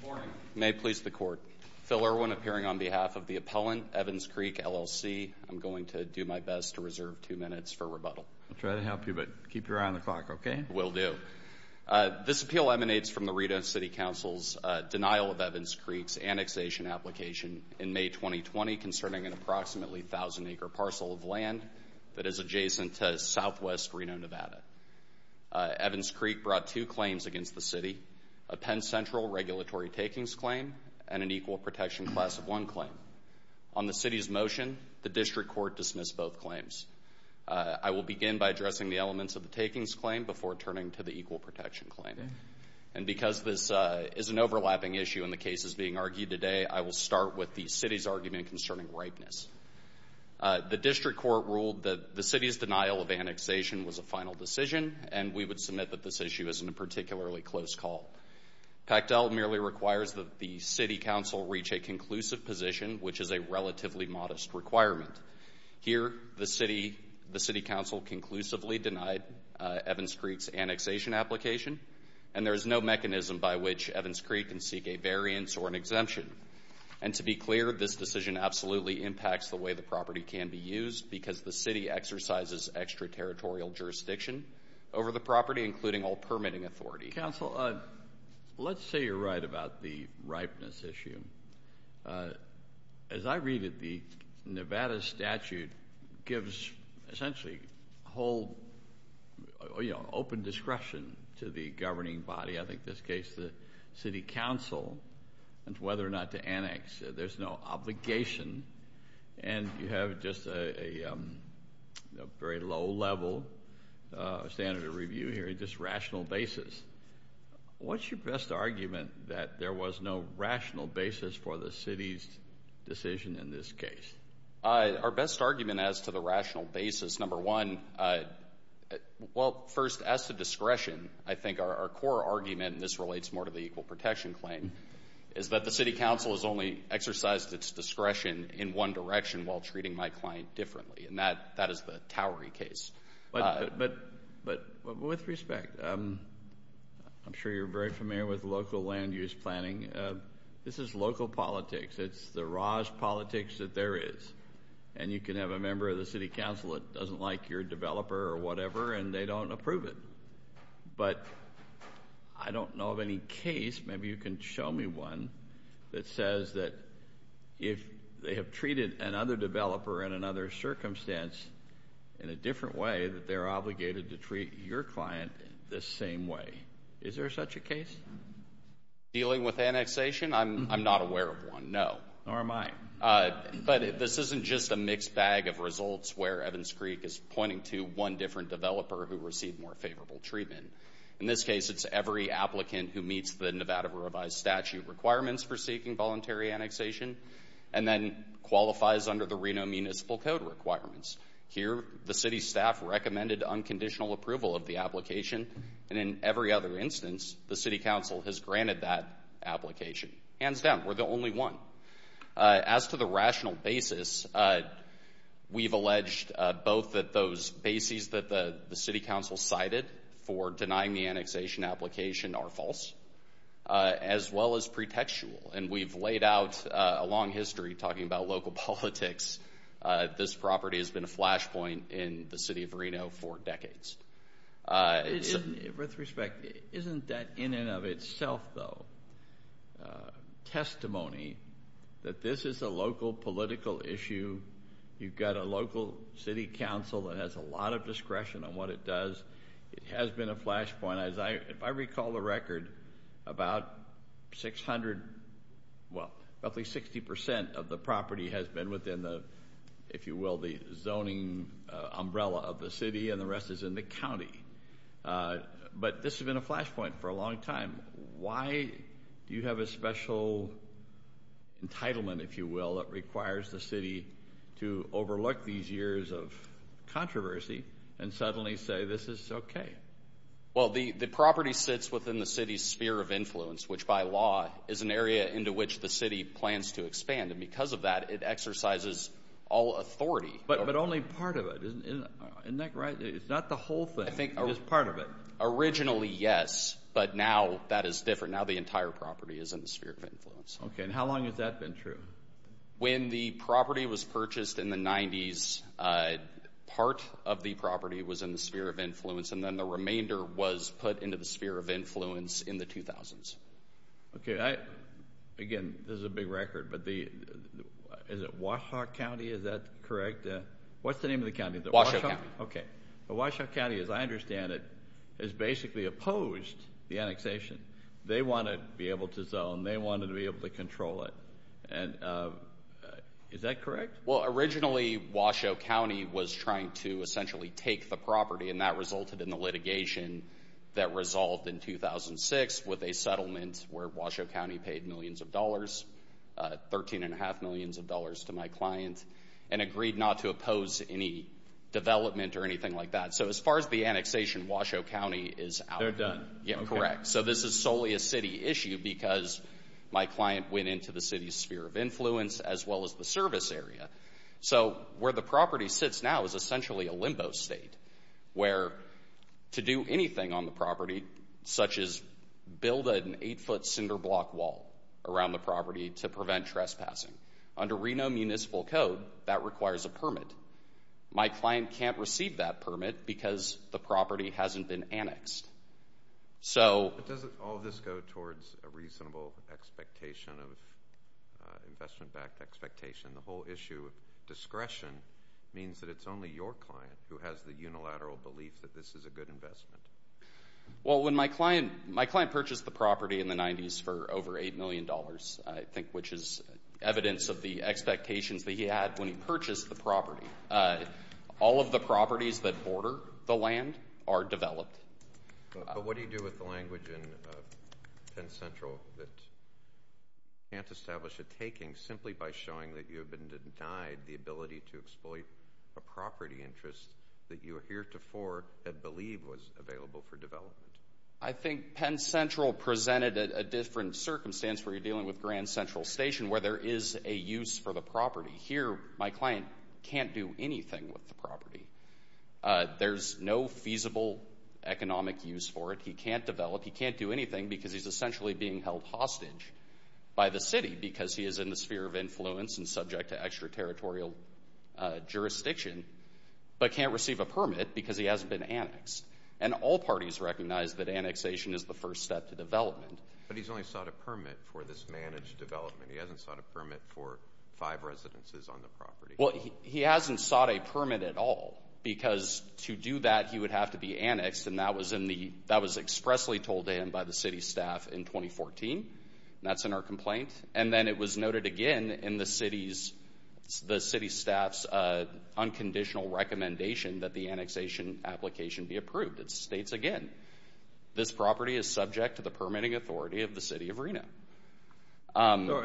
Good morning. May it please the court, Phil Irwin appearing on behalf of the appellant Evans Creek, LLC. I'm going to do my best to reserve two minutes for rebuttal. I'll try to help you, but keep your eye on the clock, okay? Will do. This appeal emanates from the Reno City Council's denial of Evans Creek's annexation application in May 2020 concerning an approximately 1,000-acre parcel of land that is adjacent to southwest Reno, Nevada. Evans Creek brought two claims against the city, a Penn Central regulatory takings claim and an equal protection class of one claim. On the city's motion, the district court dismissed both claims. I will begin by addressing the elements of the takings claim before turning to the equal protection claim. And because this is an overlapping issue in the cases being argued today, I will start with the city's argument concerning ripeness. The district court ruled that the city's denial of annexation was a final decision, and we would submit that this issue isn't a particularly close call. Pactel merely requires that the city council reach a conclusive position, which is a relatively modest requirement. Here the city council conclusively denied Evans Creek's annexation application, and there is no mechanism by which Evans Creek can seek a variance or an exemption. And to be clear, this decision absolutely impacts the way the property can be used because the city exercises extraterritorial jurisdiction over the property, including all permitting authority. Council, let's say you're right about the ripeness issue. As I read it, the Nevada statute gives essentially whole, you know, open discretion to the governing body – I think in this case the city council – as to whether or not to annex. There's no obligation, and you have just a very low level standard of review here, just rational basis. What's your best argument that there was no rational basis for the city's decision in this case? Our best argument as to the rational basis, number one, well, first, as to discretion, I think our core argument – and this relates more to the Equal Protection Claim – is that the city council has only exercised its discretion in one direction while treating my client differently, and that is the Towery case. But with respect, I'm sure you're very familiar with local land use planning. This is local politics. It's the Raj politics that there is. And you can have a member of the city council that doesn't like your developer or whatever, and they don't approve it. But I don't know of any case – maybe you can show me one – that says that if they have treated another developer in another circumstance in a different way, that they're obligated to treat your client the same way. Is there such a case? Dealing with annexation? I'm not aware of one, no. Nor am I. But this isn't just a mixed bag of results where Evans Creek is pointing to one different developer who received more favorable treatment. In this case, it's every applicant who meets the Nevada Revised Statute requirements for seeking voluntary annexation and then qualifies under the Reno Municipal Code requirements. Here, the city staff recommended unconditional approval of the application, and in every other instance, the city council has granted that application. Hands down, we're the rational basis. We've alleged both that those bases that the city council cited for denying the annexation application are false, as well as pretextual. And we've laid out a long history talking about local politics. This property has been a flashpoint in the city of Reno for decades. With respect, isn't that in and of itself, though, testimony that this is a local political issue? You've got a local city council that has a lot of discretion on what it does. It has been a flashpoint. If I recall the record, about 600, well, roughly 60% of the property has been within the, if you will, the zoning umbrella of the city, and the rest is in the county. But this has been a flashpoint for a long time. Why do you have a special entitlement, if you will, that requires the city to overlook these years of controversy and suddenly say this is okay? Well, the property sits within the city's sphere of influence, which by law is an area into which the city plans to expand. And because of that, it exercises all authority. But only part of it, isn't that right? It's not the whole thing. It is part of it. Originally, yes, but now that is different. Now the entire property is in the sphere of influence. Okay, and how long has that been true? When the property was purchased in the 90s, part of the property was in the sphere of influence, and then the remainder was put into the sphere of influence in the 2000s. Okay, again, this is a big record, but is it Washoe County? Is that correct? What's the name of the county? Washoe County. Okay. Washoe County, as I understand it, has basically opposed the annexation. They wanted to be able to zone. They wanted to be able to control it. Is that correct? Well, originally, Washoe County was trying to essentially take the property, and that resulted in the litigation that resolved in 2006 with a settlement where Washoe County paid millions of dollars, $13.5 million to my client, and agreed not to oppose any annexation. Development or anything like that. So as far as the annexation, Washoe County is out. They're done. Correct. So this is solely a city issue because my client went into the city's sphere of influence as well as the service area. So where the property sits now is essentially a limbo state where to do anything on the property, such as build an eight-foot cinder block wall around the property to prevent trespassing. Under Reno municipal code, that requires a permit. My client can't receive that permit because the property hasn't been annexed. But doesn't all this go towards a reasonable expectation of investment-backed expectation? The whole issue of discretion means that it's only your client who has the unilateral belief that this is a good investment. Well, when my client purchased the property in the 90s for over $8 million, I think, which is evidence of the expectations that he had when he purchased the property, all of the properties that border the land are developed. But what do you do with the language in Penn Central that you can't establish a taking simply by showing that you have been denied the ability to exploit a property interest that you heretofore had believed was available for development? I think Penn Central presented a different circumstance where you're dealing with Grand Central Station where there is a use for the property. Here, my client can't do anything with the property. There's no feasible economic use for it. He can't develop. He can't do anything because he's essentially being held hostage by the city because he is in the sphere of influence and subject to extraterritorial jurisdiction, but can't receive a permit because he hasn't been annexed. And all parties recognize that annexation is the first step to development. But he's only sought a permit for this managed development. He hasn't sought a permit for five residences on the property. Well, he hasn't sought a permit at all because to do that, he would have to be annexed. And that was expressly told to him by the city staff in 2014. That's in our complaint. And then it was noted again in the city staff's unconditional recommendation that the annexation application be approved. It states again, this property is subject to the permitting authority of the city of Reno.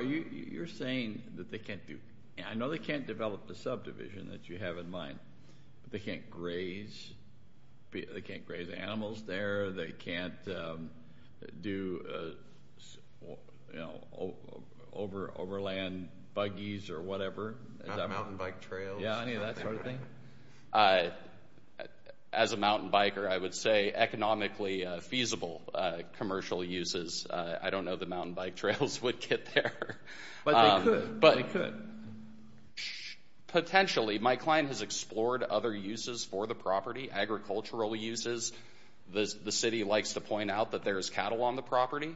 You're saying that they can't do... I know they can't develop the subdivision that you have in mind, but they can't graze. They can't graze animals there. They can't do, you know, overland buggies or whatever. Mountain bike trails. Yeah, any of that sort of thing. As a mountain biker, I would say economically feasible commercial uses. I don't know if the mountain bike trails would get there. But they could. Potentially. My client has explored other uses for the property, agricultural uses. The city likes to point out that there is cattle on the property.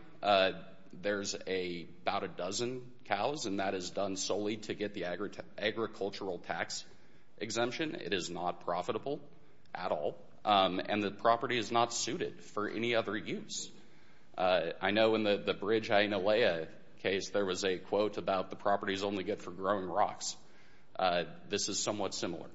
There's about a dozen cows, and that is done solely to get the agricultural tax exemption. It is not profitable at all. And the property is not suited for any other use. I know in the Bridge, Hialeah case, there was a quote about the properties only get for growing rocks. This is somewhat similar.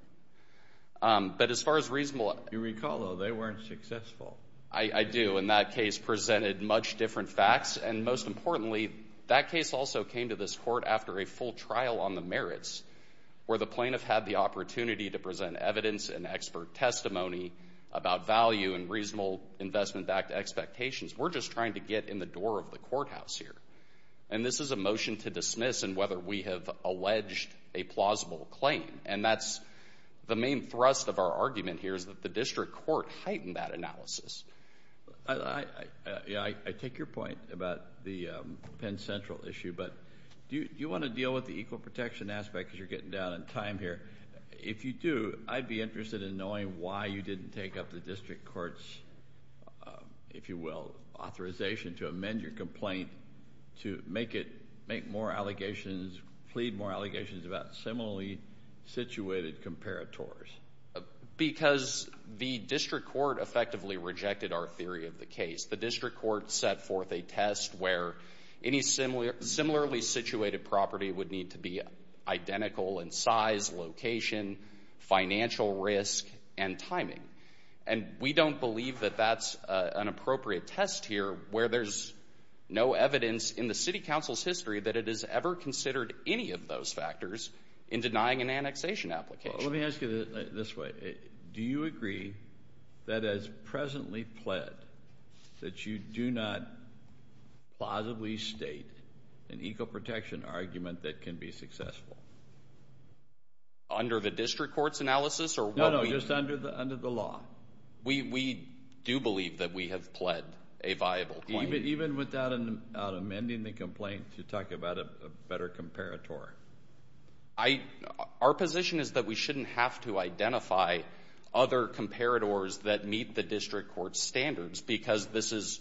But as far as reasonable... You recall, though, they weren't successful. I do. And that case presented much different facts. And most importantly, that case also came to this court after a full trial on the merits, where the plaintiff had the opportunity to present evidence and expert testimony about value and reasonable investment-backed expectations. We're just trying to get in the door of the courthouse here. And this is a motion to dismiss on whether we have alleged a plausible claim. And that's the main thrust of our argument here is that the district court heightened that analysis. I take your point about the Penn Central issue. But do you want to deal with the equal protection aspect because you're getting down on time here? If you do, I'd be interested in knowing why you didn't take up the district court's, if you will, authorization to amend your complaint to make more allegations, plead more allegations about similarly situated comparators. Because the district court effectively rejected our theory of the case. The district court set forth a test where any similarly situated property would need to be identical in size, location, financial risk, and timing. And we don't believe that that's an appropriate test here where there's no evidence in the city council's history that it has ever considered any of those factors in denying an annexation application. Let me ask you this way. Do you agree that as presently pled that you do not plausibly state an equal protection argument that can be successful? Under the district court's analysis? No, no, just under the law. We do believe that we have pled a viable claim. Even without amending the complaint to talk about a better comparator? Our position is that we shouldn't have to identify other comparators that meet the district court's standards because this is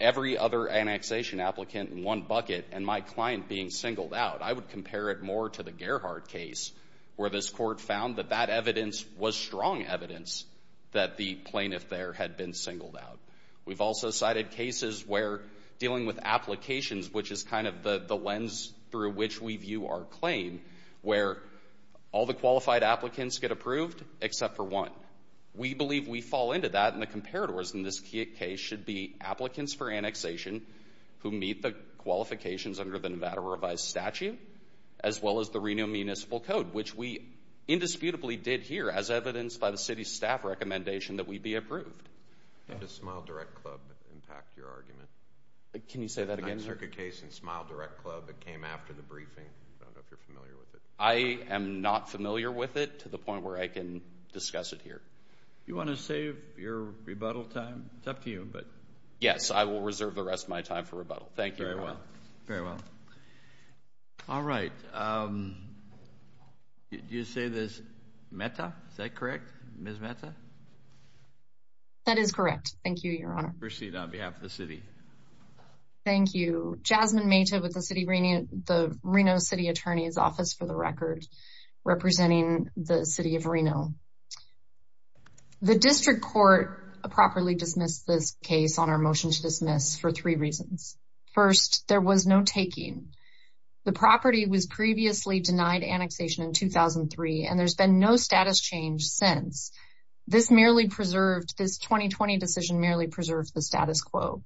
every other annexation applicant in one bucket and my client being singled out. I would compare it more to the Gerhardt case where this court found that that evidence was strong evidence that the plaintiff there had been singled out. We've also cited cases where dealing with applications, which is kind of the lens through which we view our claim, where all the qualified applicants get approved except for one. We believe we fall into that and the comparators in this case should be applicants for annexation who meet the qualifications under the Nevada Revised Statute as well as the Renewal Municipal Code, which we indisputably did here as evidenced by the city staff recommendation that we be approved. Did the Smile Direct Club impact your argument? Can you say that again? The 9th Circuit case in Smile Direct Club, it came after the briefing. I don't know if you're familiar with it. I am not familiar with it to the point where I can discuss it here. Do you want to save your rebuttal time? It's up to you. Yes, I will reserve the rest of my time for rebuttal. Thank you. Very well. All right. Did you say this Metta? Is that correct? Ms. Metta? That is correct. Thank you, Your Honor. Proceed on behalf of the city. Thank you. Jasmine Metta with the Reno City Attorney's Office for the record, representing the City of Reno. The District Court appropriately dismissed this case on our motion to dismiss for three reasons. First, there was no taking. The property was previously denied annexation in 2003 and there's been no status change since. This 2020 decision merely preserved the status quo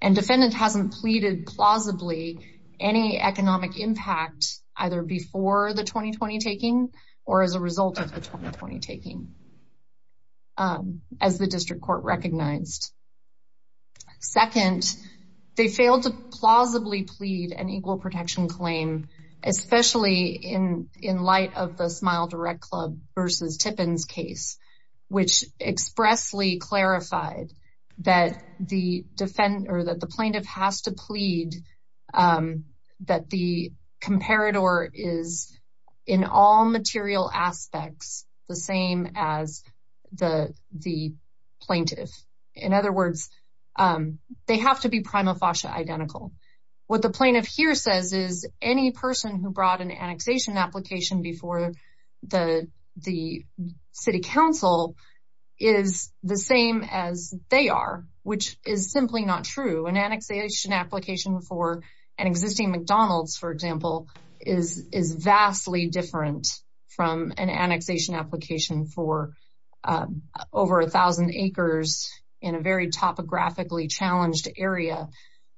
and defendant hasn't pleaded plausibly any economic impact either before the 2020 taking or as a result of the 2020 taking as the District Court recognized. Second, they failed to plausibly plead an equal protection claim, especially in light of the Smile Direct Club v. Tippins case, which expressly clarified that the plaintiff has to plead that the comparator is in all material aspects the same as the plaintiff. In other words, they have to be prima facie identical. What the plaintiff here says is any person who brought an annexation application before the City Council is the same as they are, which is simply not true. An annexation application for an existing McDonald's, for example, is vastly different from an annexation application for over 1,000 acres in a very topographically challenged area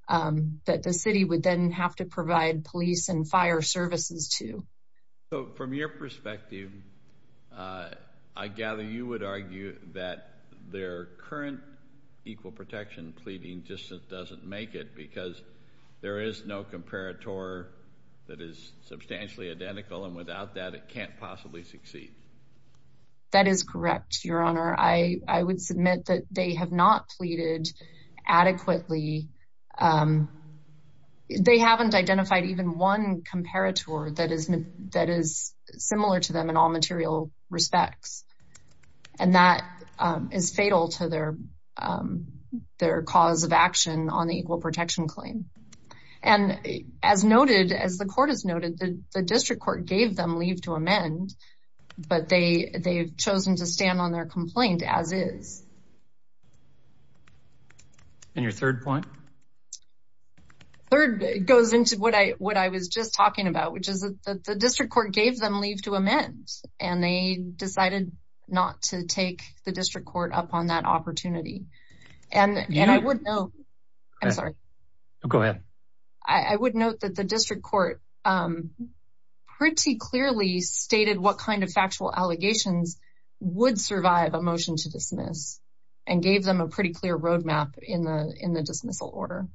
that the City would then have to provide police and fire services to. So, from your perspective, I gather you would argue that their current equal protection pleading just doesn't make it because there is no comparator that is substantially identical and without that it can't possibly succeed. That is correct, Your Honor. I would submit that they have not pleaded adequately. They haven't identified even one comparator that is similar to them in all material respects. And that is fatal to their cause of action on the equal protection claim. And as noted, as the Court has noted, the District Court gave them leave to amend, but they have chosen to stand on their complaint as is. And your third point? Third goes into what I was just talking about, which is that the District Court gave them leave to amend. And they decided not to take the District Court up on that opportunity. And I would note... Go ahead. I would note that the District Court pretty clearly stated what kind of factual allegations would survive a motion to dismiss and gave them a pretty clear road map in the dismissal order.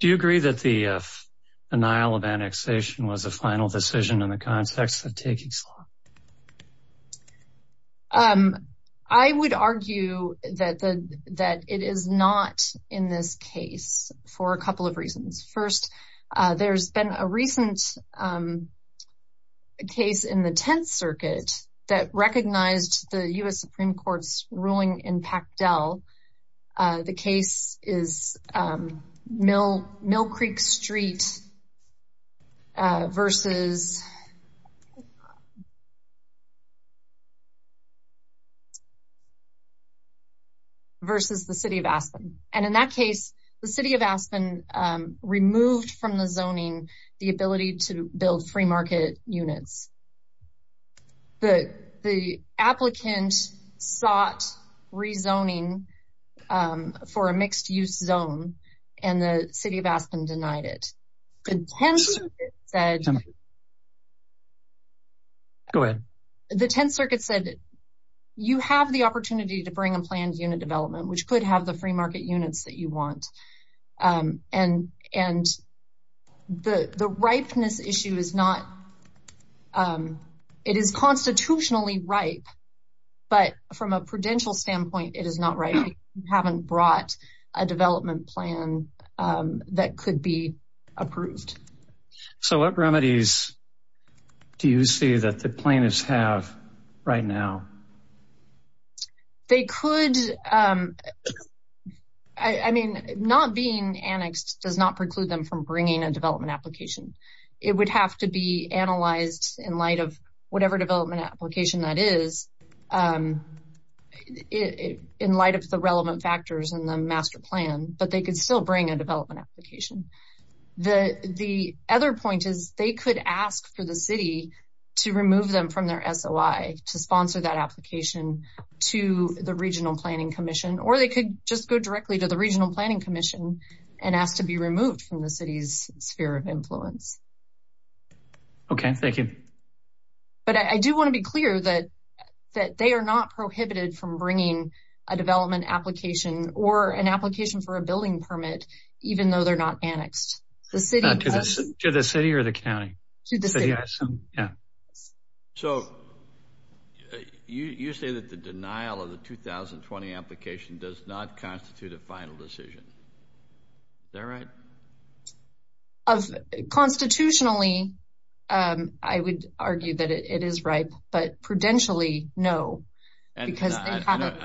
Do you agree that the denial of annexation was a final decision in the context of taking slot? I would argue that it is not in this case for a couple of reasons. First, there's been a recent case in the Tenth Circuit that recognized the U.S. Supreme Court's ruling in Pactel. The case is Mill Creek Street versus... versus the City of Aspen. And in that case, the City of Aspen removed from the zoning the ability to build free market units. The applicant sought rezoning for a mixed-use zone, and the City of Aspen denied it. The Tenth Circuit said... Go ahead. The Tenth Circuit said you have the opportunity to bring a planned unit development, which could have the free market units that you want. And the ripeness issue is not... It is constitutionally ripe, but from a prudential standpoint, it is not ripe. We haven't brought a development plan that could be approved. So what remedies do you see that the plaintiffs have right now? They could... I mean, not being annexed does not preclude them from bringing a development application. It would have to be analyzed in light of whatever development application that is, in light of the relevant factors in the master plan, but they could still bring a development application. The other point is they could ask for the City to remove them from their SOI, to sponsor that application to the Regional Planning Commission, or they could just go directly to the Regional Planning Commission and ask to be removed from the City's sphere of influence. Okay, thank you. But I do want to be clear that they are not prohibited from bringing a development application or an application for a building permit, even though they're not annexed. To the City or the County? To the City. So you say that the denial of the 2020 application does not constitute a final decision. Is that right? Constitutionally, I would argue that it is ripe, but prudentially, no. I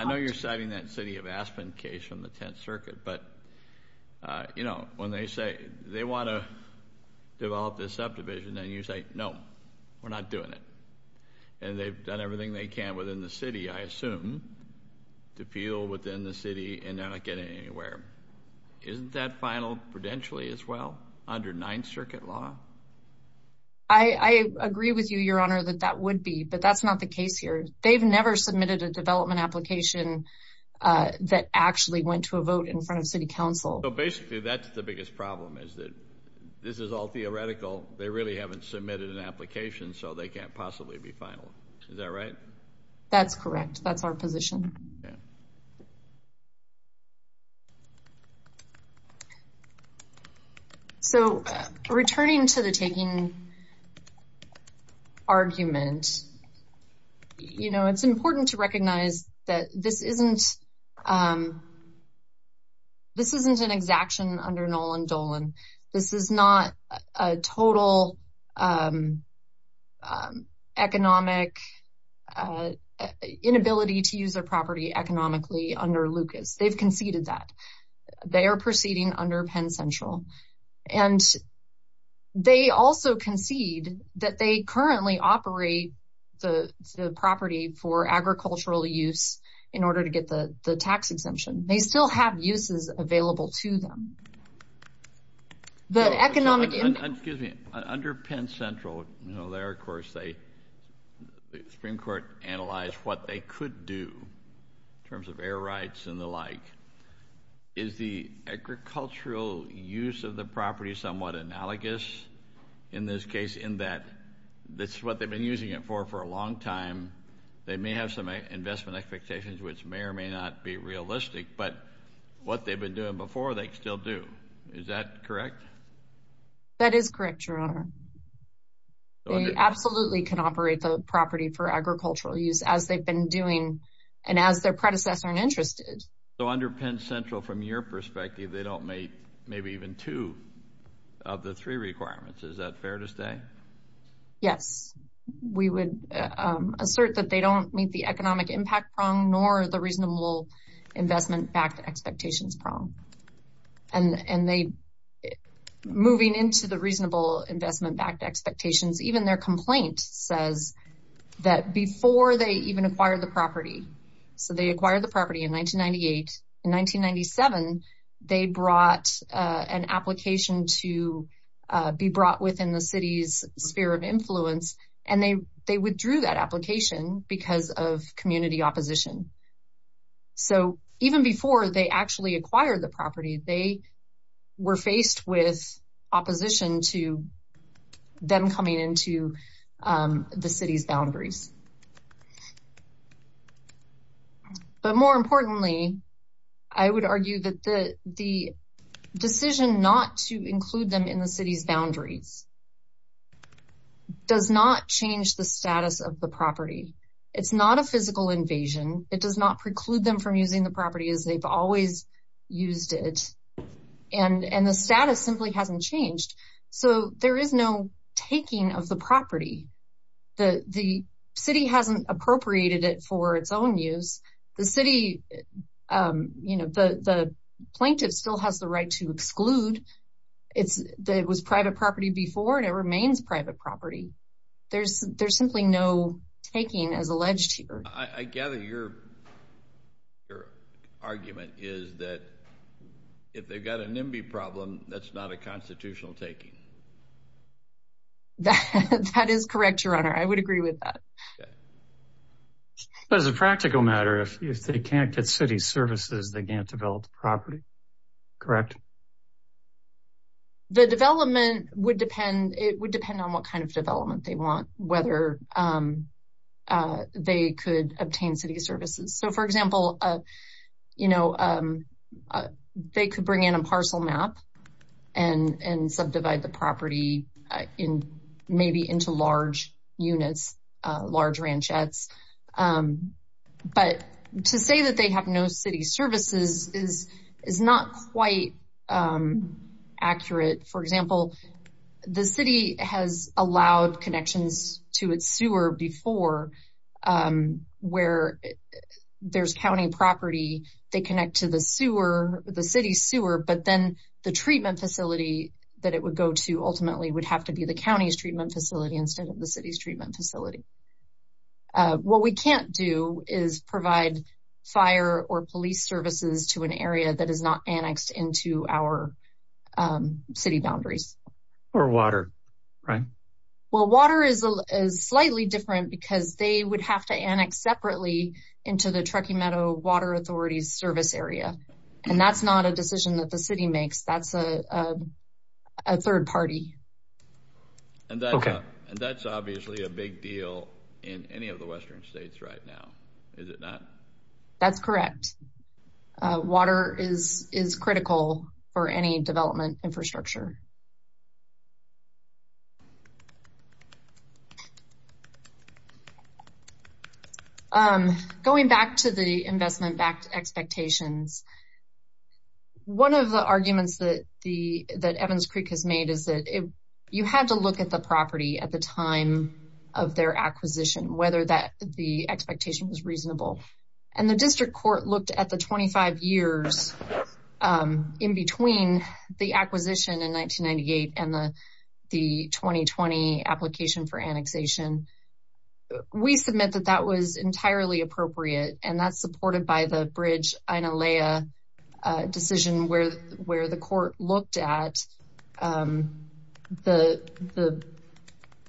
know you're citing that City of Aspen case from the 10th Circuit, but, you know, when they say they want to develop this subdivision, then you say, no, we're not doing it. And they've done everything they can within the City, I assume, to appeal within the City, and they're not getting anywhere. Isn't that final prudentially as well, under 9th Circuit law? I agree with you, Your Honor, that that would be, but that's not the case here. They've never submitted a development application that actually went to a vote in front of City Council. So basically, that's the biggest problem, is that this is all theoretical. They really haven't submitted an application, so they can't possibly be final. Is that right? That's correct. That's our position. So, returning to the taking argument, you know, it's important to recognize that this isn't, this isn't an exaction under Nolen-Dolan. This is not a total economic inability to use their property, economically, under Lucas. They've conceded that. They are proceeding under Penn Central. And they also concede that they currently operate the property for agricultural use in order to get the tax exemption. They still have uses available to them. Excuse me, under Penn Central, you know, there, of course, the Supreme Court analyzed what they could do in terms of air rights and the like. Is the agricultural use of the property somewhat analogous in this case, in that this is what they've been using it for for a long time? They may have some investment expectations, which may or may not be realistic, but what they've been doing before, they still do. Is that correct? That is correct, Your Honor. They absolutely can operate the property for agricultural use as they've been doing and as their predecessor and interest did. So under Penn Central, from your perspective, they don't meet maybe even two of the three requirements. Is that fair to say? Yes. We would assert that they don't meet the economic impact prong nor the reasonable investment backed expectations prong. And they, moving into the reasonable investment backed expectations, even their complaint says that before they even acquired the property, so they acquired the property in 1998. In 1997, they brought an application to be brought within the city's sphere of influence and they withdrew that application because of community opposition. So even before they actually acquired the property, they were faced with opposition to them coming into the city's boundaries. But more importantly, I would argue that the decision not to include them in the city's boundaries does not change the status of the property. It's not a physical invasion. It does not preclude them from using the property as they've always used it. And the status simply hasn't changed. So there is no taking of the property. The city hasn't appropriated it for its own use. The city, you know, the plaintiff still has the right to exclude. It was private property before and it remains private property. There's simply no taking as alleged here. I gather your argument is that if they've got a NIMBY problem, that's not a constitutional taking. That is correct, Your Honor. I would agree with that. As a practical matter, if they can't get city services, they can't develop the property, correct? The development would depend on what kind of development they want, whether they could obtain city services. So, for example, you know, they could bring in a parcel map and subdivide the property maybe into large units, large ranchettes. But to say that they have no city services is not quite accurate. For example, the city has allowed connections to its sewer before where there's county property. They connect to the sewer, the city sewer, but then the treatment facility that it would go to ultimately would have to be the county's treatment facility instead of the city's treatment facility. What we can't do is provide fire or police services to an area that is not annexed into our city boundaries. Or water, right? Well, water is slightly different because they would have to annex separately into the Truckee Meadow Water Authority's service area. And that's not a decision that the city makes. That's a third party. And that's obviously a big deal in any of the western states right now. Is it not? That's correct. Water is critical for any development infrastructure. Going back to the investment-backed expectations, one of the arguments that Evans Creek has made is that you had to look at the property at the time of their acquisition, whether the expectation was reasonable. And the district court looked at the 25 years in between the acquisition in 1998 and the 2020 application for annexation. We submit that that was entirely appropriate. And that's supported by the Bridge Inalea decision where the court looked at the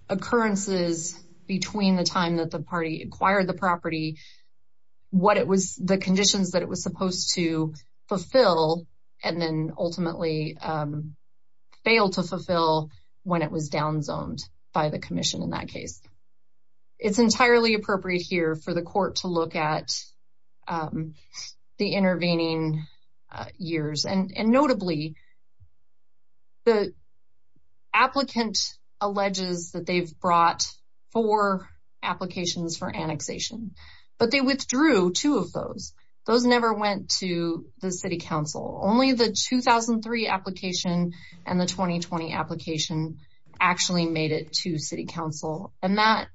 occurrences between the time that the party acquired the property, what it was, the conditions that it was supposed to fulfill, and then ultimately fail to fulfill when it was down-zoned by the commission in that case. It's entirely appropriate here for the court to look at the intervening years. And notably, the applicant alleges that they've brought four applications for annexation, but they withdrew two of those. Those never went to the city council. Only the 2003 application and the 2020 application actually made it to the city council. And that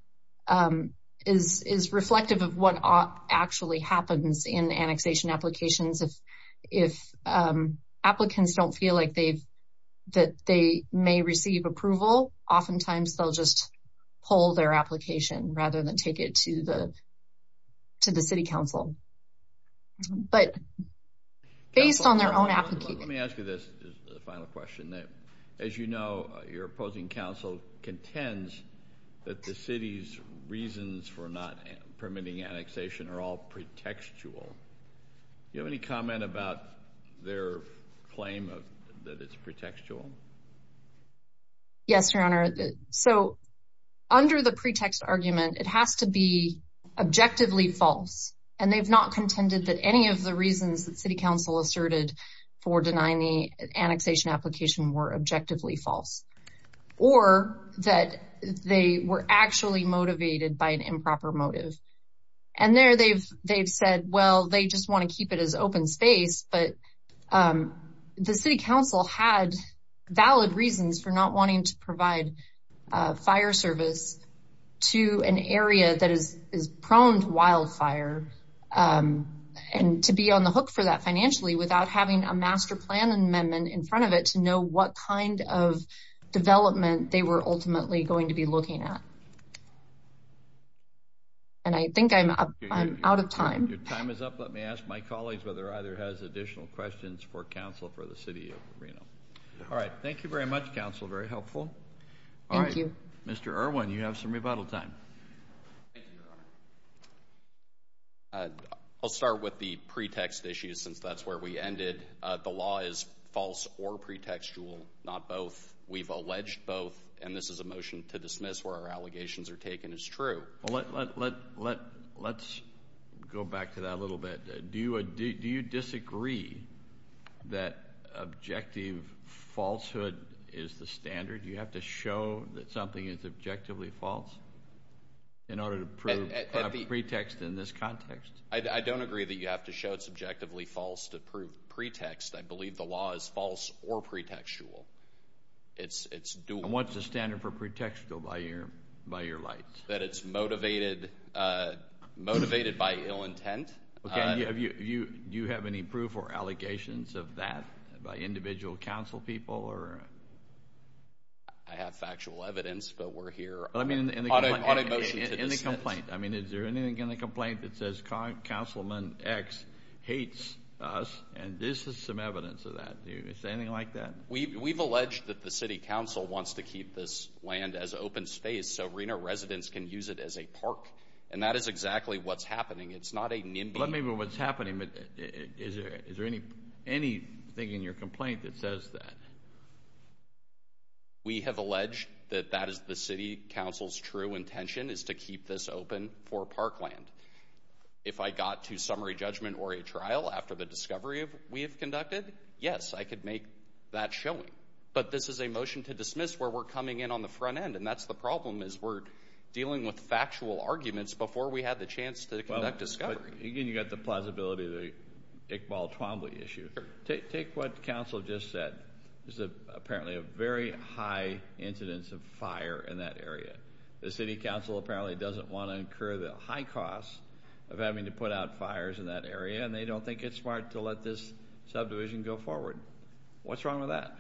is reflective of what actually happens in annexation applications. If applicants don't feel like they may receive approval, oftentimes they'll just pull their application rather than take it to the city council. But based on their own application... Let me ask you this final question. As you know, your opposing council contends that the city's reasons for not permitting annexation are all pretextual. Do you have any comment about their claim that it's pretextual? Yes, Your Honor. So under the pretext argument, it has to be objectively false. And they've not contended that any of the reasons that city council asserted for denying the annexation application were objectively false. Or that they were actually motivated by an improper motive. And there they've said, well, they just want to keep it as open space. But the city council had valid reasons for not wanting to provide fire service to an area that is prone to wildfire and to be on the hook for that financially without having a master plan amendment in front of it to know what kind of development they were ultimately going to be looking at. And I think I'm out of time. Your time is up. Let me ask my colleagues whether either has additional questions for council for the city of Reno. All right. Thank you very much, counsel. Very helpful. Thank you. Mr. Irwin, you have some rebuttal time. Thank you, Your Honor. I'll start with the pretext issue since that's where we ended. The law is false or pretextual, not both. We've alleged both. And this is a motion to dismiss where our allegations are taken as true. Let's go back to that a little bit. Do you disagree that objective falsehood is the standard? Do you have to show that something is objectively false in order to prove? Pretext in this context? I don't agree that you have to show it's objectively false to prove pretext. I believe the law is false or pretextual. It's dual. And what's the standard for pretextual by your light? That it's motivated by ill intent. Do you have any proof or allegations of that by individual council people? I have factual evidence, but we're here on a motion to dismiss. I mean, is there anything in the complaint that says Councilman X hates us? And this is some evidence of that. Is there anything like that? We've alleged that the city council wants to keep this land as open space so Reno residents can use it as a park. And that is exactly what's happening. It's not a nimby. Let me know what's happening. Is there anything in your complaint that says that? We have alleged that that is the city council's true intention is to keep this open for parkland. If I got to summary judgment or a trial after the discovery we have conducted, yes, I could make that showing. But this is a motion to dismiss where we're coming in on the front end. And that's the problem is we're dealing with factual arguments before we had the chance to conduct discovery. Again, you've got the plausibility of the Iqbal Twombly issue. Take what Council just said. There's apparently a very high incidence of fire in that area. The city council apparently doesn't want to incur the high cost of having to put out fires in that area. And they don't think it's smart to let this subdivision go forward. What's wrong with that?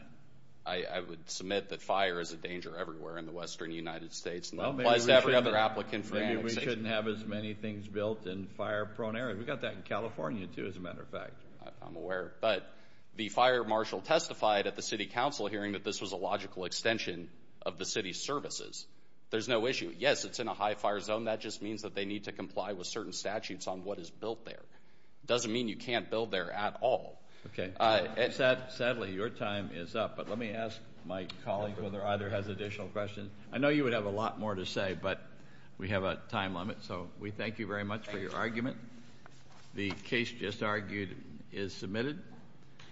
I would submit that fire is a danger everywhere in the western United States. And that applies to every other applicant for annexation. Maybe we shouldn't have as many things built in fire prone areas. We've got that in California, too, as a matter of fact. I'm aware. But the fire marshal testified at the city council hearing that this was a logical extension of the city services. There's no issue. Yes, it's in a high fire zone. That just means that they need to comply with certain statutes on what is built there. It doesn't mean you can't build there at all. Okay. Sadly, your time is up. But let me ask my colleague whether either has additional questions. I know you would have a lot more to say, but we have a time limit. So we thank you very much for your argument. The case just argued is submitted.